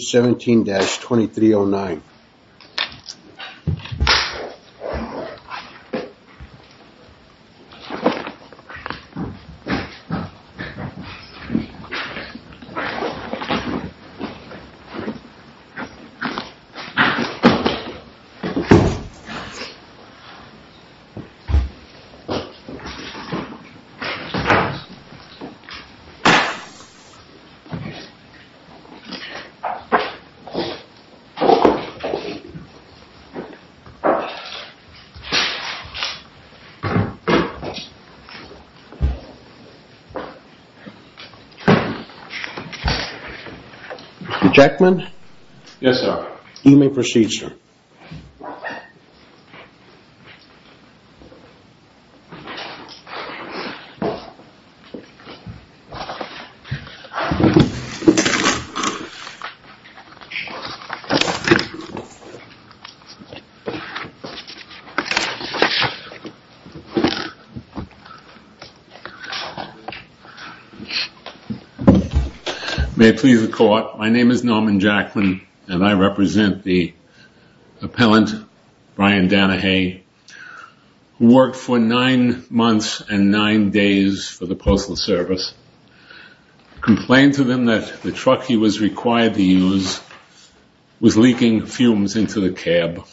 17-2309 Mr. Jackman. Yes sir. You may proceed sir. May it please the court, my name is Norman Jackman and I represent the appellant Brian Danahay who worked for nine months and nine days for the Postal Service. I complain to him that the truck he was required to use was leaking fumes into the cab.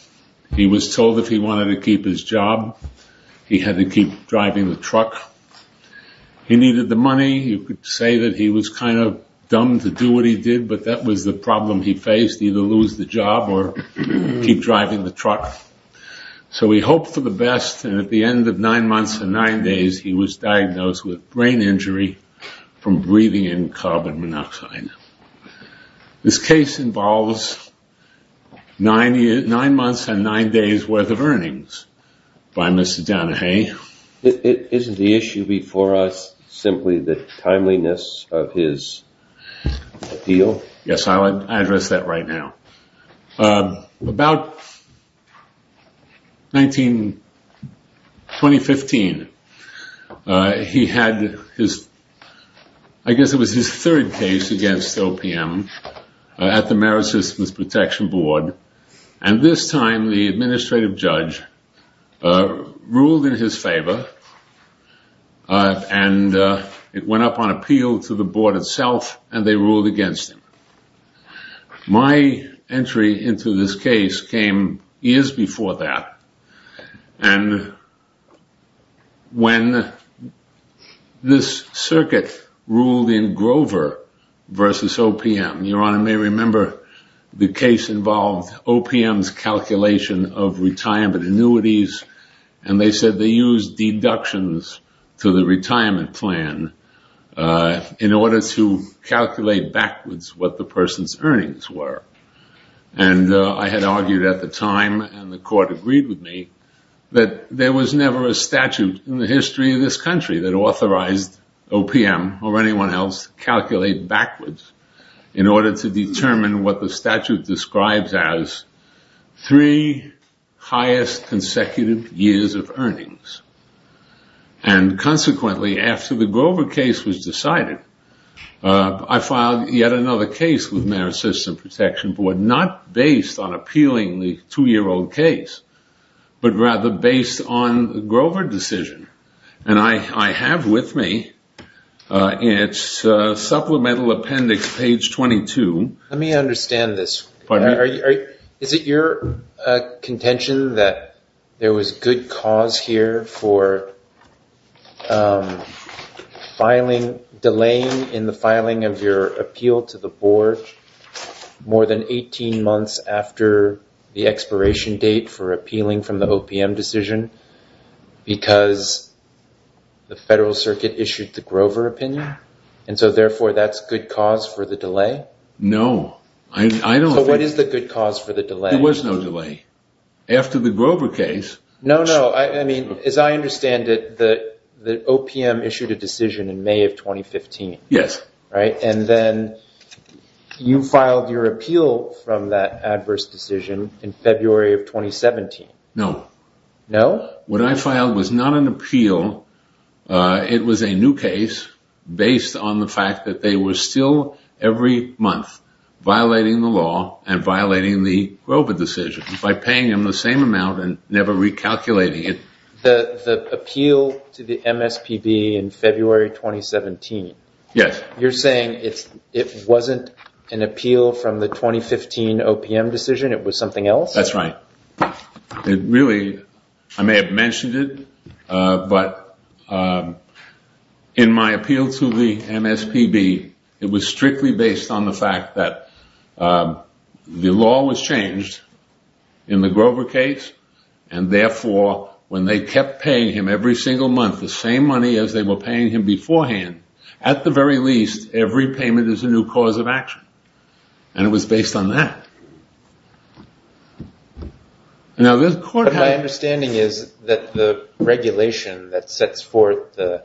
He was told if he wanted to keep his job, he had to keep driving the truck. He needed the money. You could say that he was kind of dumb to do what he did, but that was the problem he faced, either lose the job or keep driving the truck. So he hoped for the best and at the end of This case involves nine months and nine days worth of earnings by Mr. Danahay. Isn't the issue before us simply the timeliness of his appeal? Yes, I'll address that right now. About 2015, he had his, I guess it was his third case against OPM at the Merit Systems Protection Board and this time the administrative judge ruled in his favor and it went up on to this case came years before that and when this circuit ruled in Grover versus OPM, your honor may remember the case involved OPM's calculation of retirement annuities and they said they used deductions to the retirement plan in order to calculate backwards what the person's earnings were. And I had argued at the time and the court agreed with me that there was never a statute in the history of this country that authorized OPM or anyone else to calculate backwards in order to determine what the statute describes as three highest consecutive years of earnings. And consequently, after the Grover case was decided, I filed yet another case with Merit Systems Protection Board, not based on appealing the two year old case, but rather based on the Grover decision and I have with me its supplemental appendix page 22. Let me understand this. Is it your contention that there was good cause here for delaying in the filing of your appeal to the board more than 18 months after the expiration date for appealing from the OPM decision because the federal circuit issued the Grover opinion and so therefore that's good cause for the delay? No. So what is the good cause for the delay? There was no delay. After the Grover case... No, no. As I understand it, the OPM issued a decision in May of 2015. Yes. And then you filed your appeal from that adverse decision in February of 2017. No. No? What I filed was not an appeal. It was a new case based on the fact that they were still every month violating the law and violating the Grover decision by paying them the same amount and never recalculating it. The appeal to the MSPB in February 2017. Yes. You're saying it wasn't an appeal from the 2015 OPM decision? It was something else? That's right. Really, I may have mentioned it, but in my appeal to the MSPB, it was strictly based on the fact that the law was changed in the Grover case and therefore when they kept paying him every single month the same money as they were paying him beforehand, at the very least, every payment is a new cause of action. And it was based on that. My understanding is that the regulation that sets forth the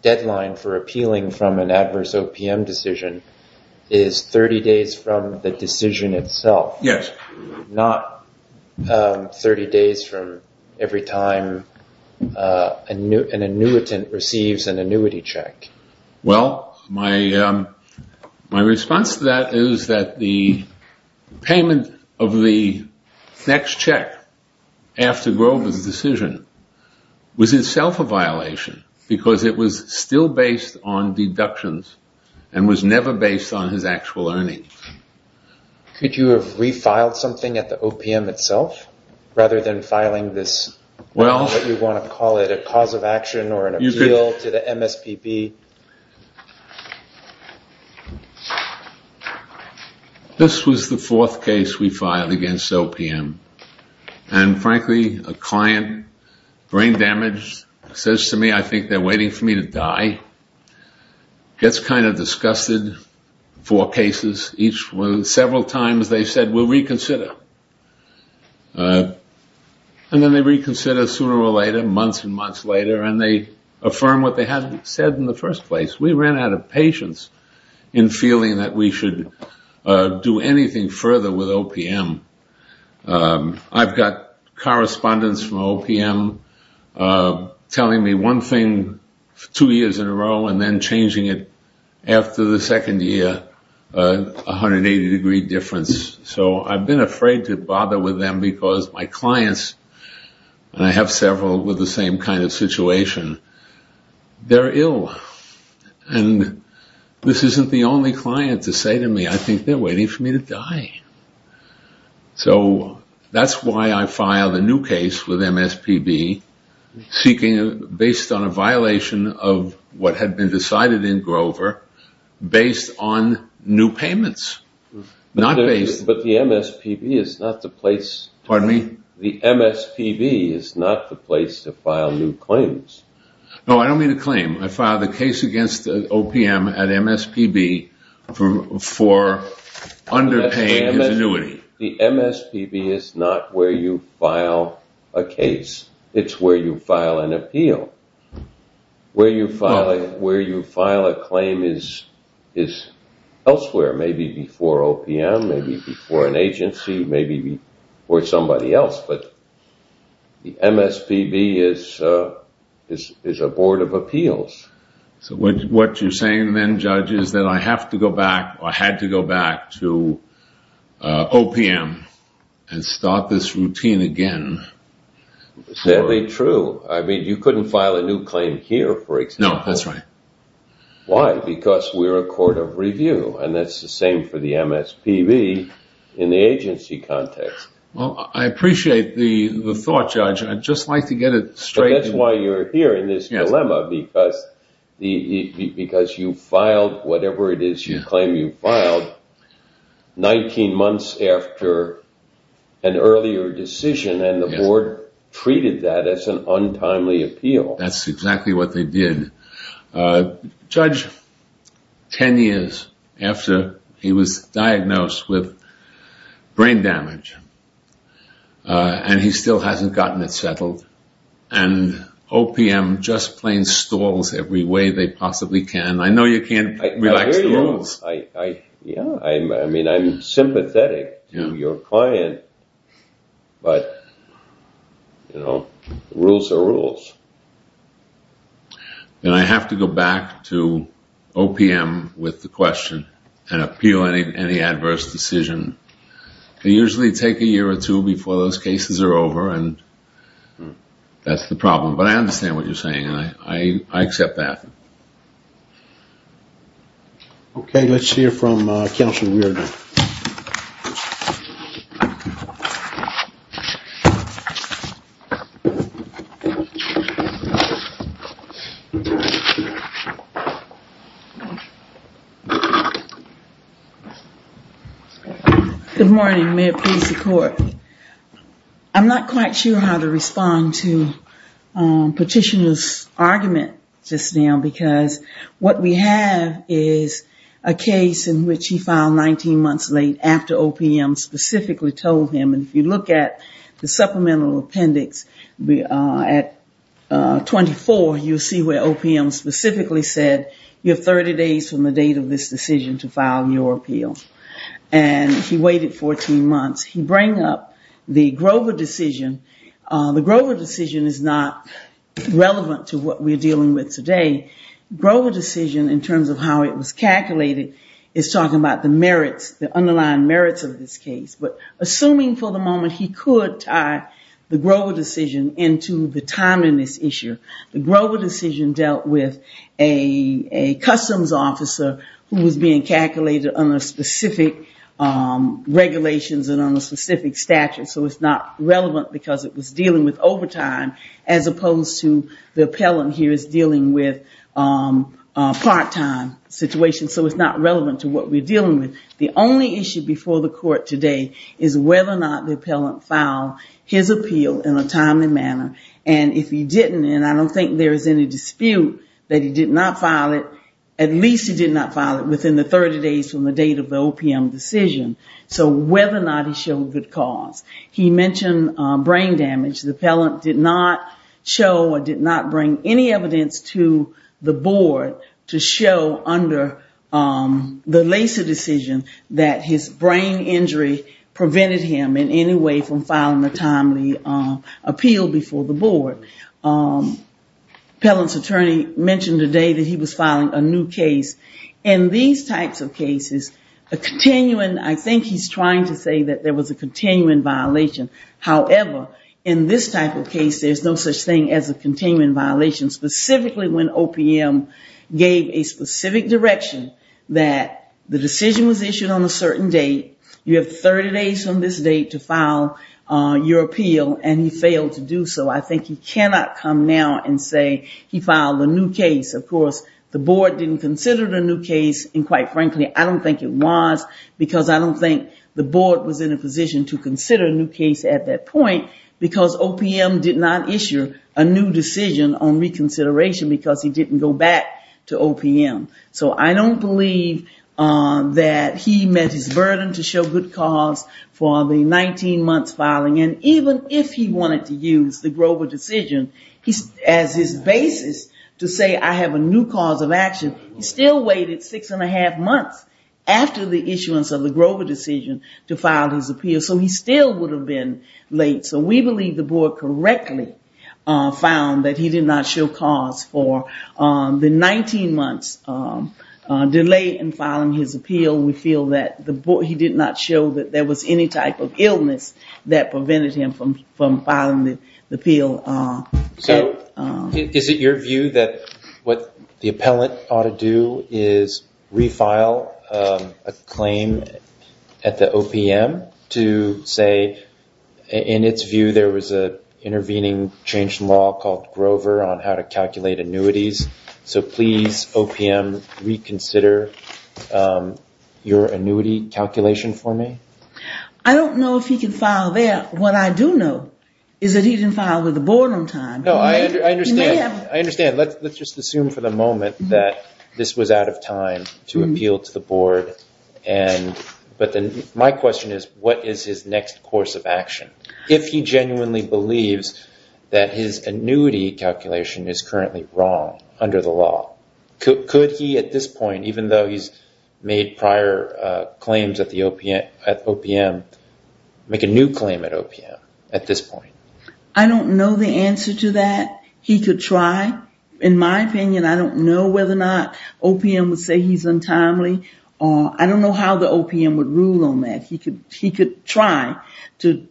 deadline for appealing from an adverse OPM decision is 30 days from the decision itself. Yes. Not 30 days from every time an annuitant receives an annuity check. Well, my response to that is that the payment of the next check after Grover's decision was itself a violation because it was still based on deductions and was never based on his actual earnings. Could you have refiled something at the OPM itself rather than filing this, what you want to call it, a cause of action or an appeal to the MSPB? This was the fourth case we filed against OPM. And frankly, a client, brain damaged, says to me, I think they're waiting for me to die. Gets kind of disgusted. Four cases. Several times they said, we'll reconsider. And then they reconsider sooner or later, months and months later. And they affirm what they had said in the first place. We ran out of patience in feeling that we should do anything further with OPM. I've got correspondents from OPM telling me one thing two years in a row and then changing it after the second year, 180 degree difference. So I've been afraid to bother with them because my clients, and I have several with the same kind of situation, they're ill. And this isn't the only client to say to me, I think they're waiting for me to die. So that's why I filed a new case with MSPB based on a violation of what had been decided in Grover based on new payments. Not based. But the MSPB is not the place. The MSPB is not the place to file new claims. No, I don't mean a claim. I filed a case against OPM at MSPB for underpaying. The MSPB is not where you file a case. It's where you file an appeal. Where you file a claim is elsewhere, maybe before OPM, maybe before an agency, maybe before somebody else. But the MSPB is a board of appeals. So what you're saying then, Judge, is that I have to go back or had to go back to a new claim here, for example. No, that's right. Why? Because we're a court of review and that's the same for the MSPB in the agency context. Well, I appreciate the thought, Judge. I'd just like to get it straight. That's why you're here in this dilemma because you filed whatever it is you claim you filed 19 months after an earlier decision and the board treated that as an untimely appeal. That's exactly what they did. Judge, 10 years after he was diagnosed with brain damage and he still hasn't gotten it settled and OPM just plain stalls every way they possibly can. I know you can't relax the rules. Yeah, I mean, I'm sympathetic to your client, but, you know, rules are rules. And I have to go back to OPM with the question and appeal any adverse decision. They usually take a year or two before those cases are over and that's the problem. But I understand what you're saying and I accept that. Okay, let's hear from Counselor Good morning, Mayor, Police and Court. I'm not quite sure how to respond to Petitioner's argument just now because what we have is a case in which he filed 19 months late after OPM specifically told him. And if you look at the supplemental appendix at 24, you'll see where OPM specifically said you have 30 days from the date of this decision to file your appeal. And he waited 14 months. He bring up the Grover decision. The Grover decision is not relevant to what we're dealing with today. Grover decision in terms of how it was calculated is talking about the merits, the underlying merits of this case. But assuming for the moment he could tie the Grover decision into the time in this issue, the Grover decision dealt with a customs officer who was being calculated under specific regulations and under specific statutes. So it's not relevant because it was dealing with overtime as opposed to the appellant here is dealing with part-time situations. So it's not relevant to what we're dealing with. The only issue before the court today is whether or not the appellant filed his appeal in a timely manner. And if he didn't, and I don't think there's any dispute that he did not file it, at least he did not file it within the 30 days from the date of the OPM decision. So whether or not he showed good cause. He mentioned brain damage. The appellant did not show or did not bring any evidence to the board to show under the Lacey decision that his brain injury prevented him in any way from filing a timely appeal before the board. Appellant's attorney mentioned today that he was filing a new case. In these types of cases, a continuing, I think he's trying to say that there was a continuing violation. However, in this type of case, there's no such thing as a continuing violation specifically when OPM gave a specific direction that the decision was issued on a certain date. You have 30 days from this date to file your appeal and he failed to do so. I think he cannot come now and say he filed a new case. Of course, the board didn't consider it a new case and quite frankly, I don't think it was because I don't think the board was in a position to on reconsideration because he didn't go back to OPM. So I don't believe that he met his burden to show good cause for the 19 months filing. And even if he wanted to use the Grover decision as his basis to say I have a new cause of action, he still waited six and a half months after the issuance of the Grover decision to file his appeal. So he still would have been late. So we believe the board correctly found that he did not show cause for the 19 months delay in filing his appeal. We feel that he did not show that there was any type of illness that prevented him from filing the appeal. So is it your view that what the appellant ought to do is refile a claim at the OPM to say in its view there was an intervening change in law called Grover on how to calculate annuities. So please OPM reconsider your annuity calculation for me? I don't know if he can file that. What I do know is that he didn't file with the board on time. No, I understand. I understand. Let's just assume for the moment that this was out of time to appeal to the board. But my question is, what is his next course of action? If he genuinely believes that his annuity calculation is currently wrong under the law, could he at this point, even though he's made prior claims at OPM, make a new claim at OPM at this point? I don't know the answer to that. He could try. In my opinion, I don't know whether or not OPM would say he's untimely. I don't know how the OPM would rule on that. He could try to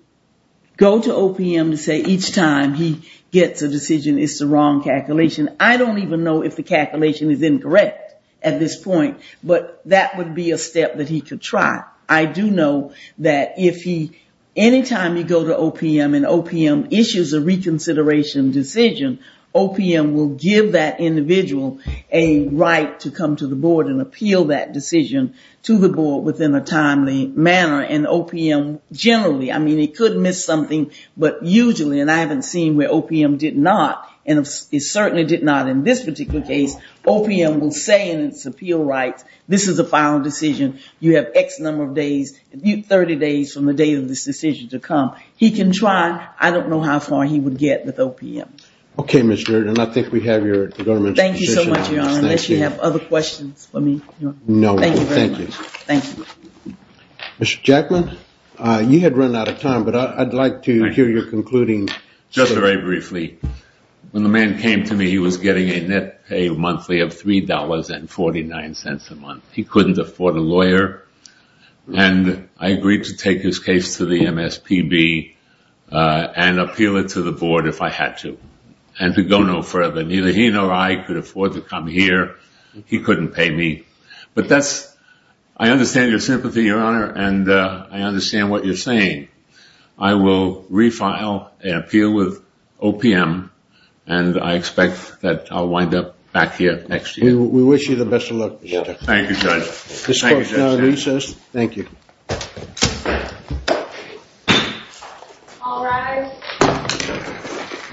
go to OPM to say each time he gets a decision, it's the wrong calculation. I don't even know if the calculation is incorrect at this point, but that would be a step that he could try. I do know that if he, anytime you go to OPM and OPM issues a reconsideration decision, OPM will give that individual a right to come to the board and appeal that decision to the board within a timely manner. And OPM generally, I mean, it could miss something, but usually, and I haven't seen where OPM did not, and it certainly did not in this particular case, OPM will say in its appeal rights, this is a final decision. You have X number of days, 30 days from the day of this decision to come. He can try. I don't know how far he would get with OPM. Okay, Ms. Durden, I think we have your government's position on this. Thank you so much, Your Honor, unless you have other questions for me? No. Thank you very much. Thank you. Mr. Jackman, you had run out of time, but I'd like to hear your concluding. Just very briefly, when the man came to me, he was getting a net pay of $3.49 a month. He couldn't afford a lawyer, and I agreed to take his case to the MSPB and appeal it to the board if I had to. And to go no further, neither he nor I could afford to come here. He couldn't pay me. But that's, I understand your sympathy, Your Honor, and I understand what you're saying. I will refile an appeal with OPM, and I expect that I'll wind up back here next year. We wish you the best of luck, Mr. Jackman. Thank you, Judge. This court is now in recess. Thank you. All rise.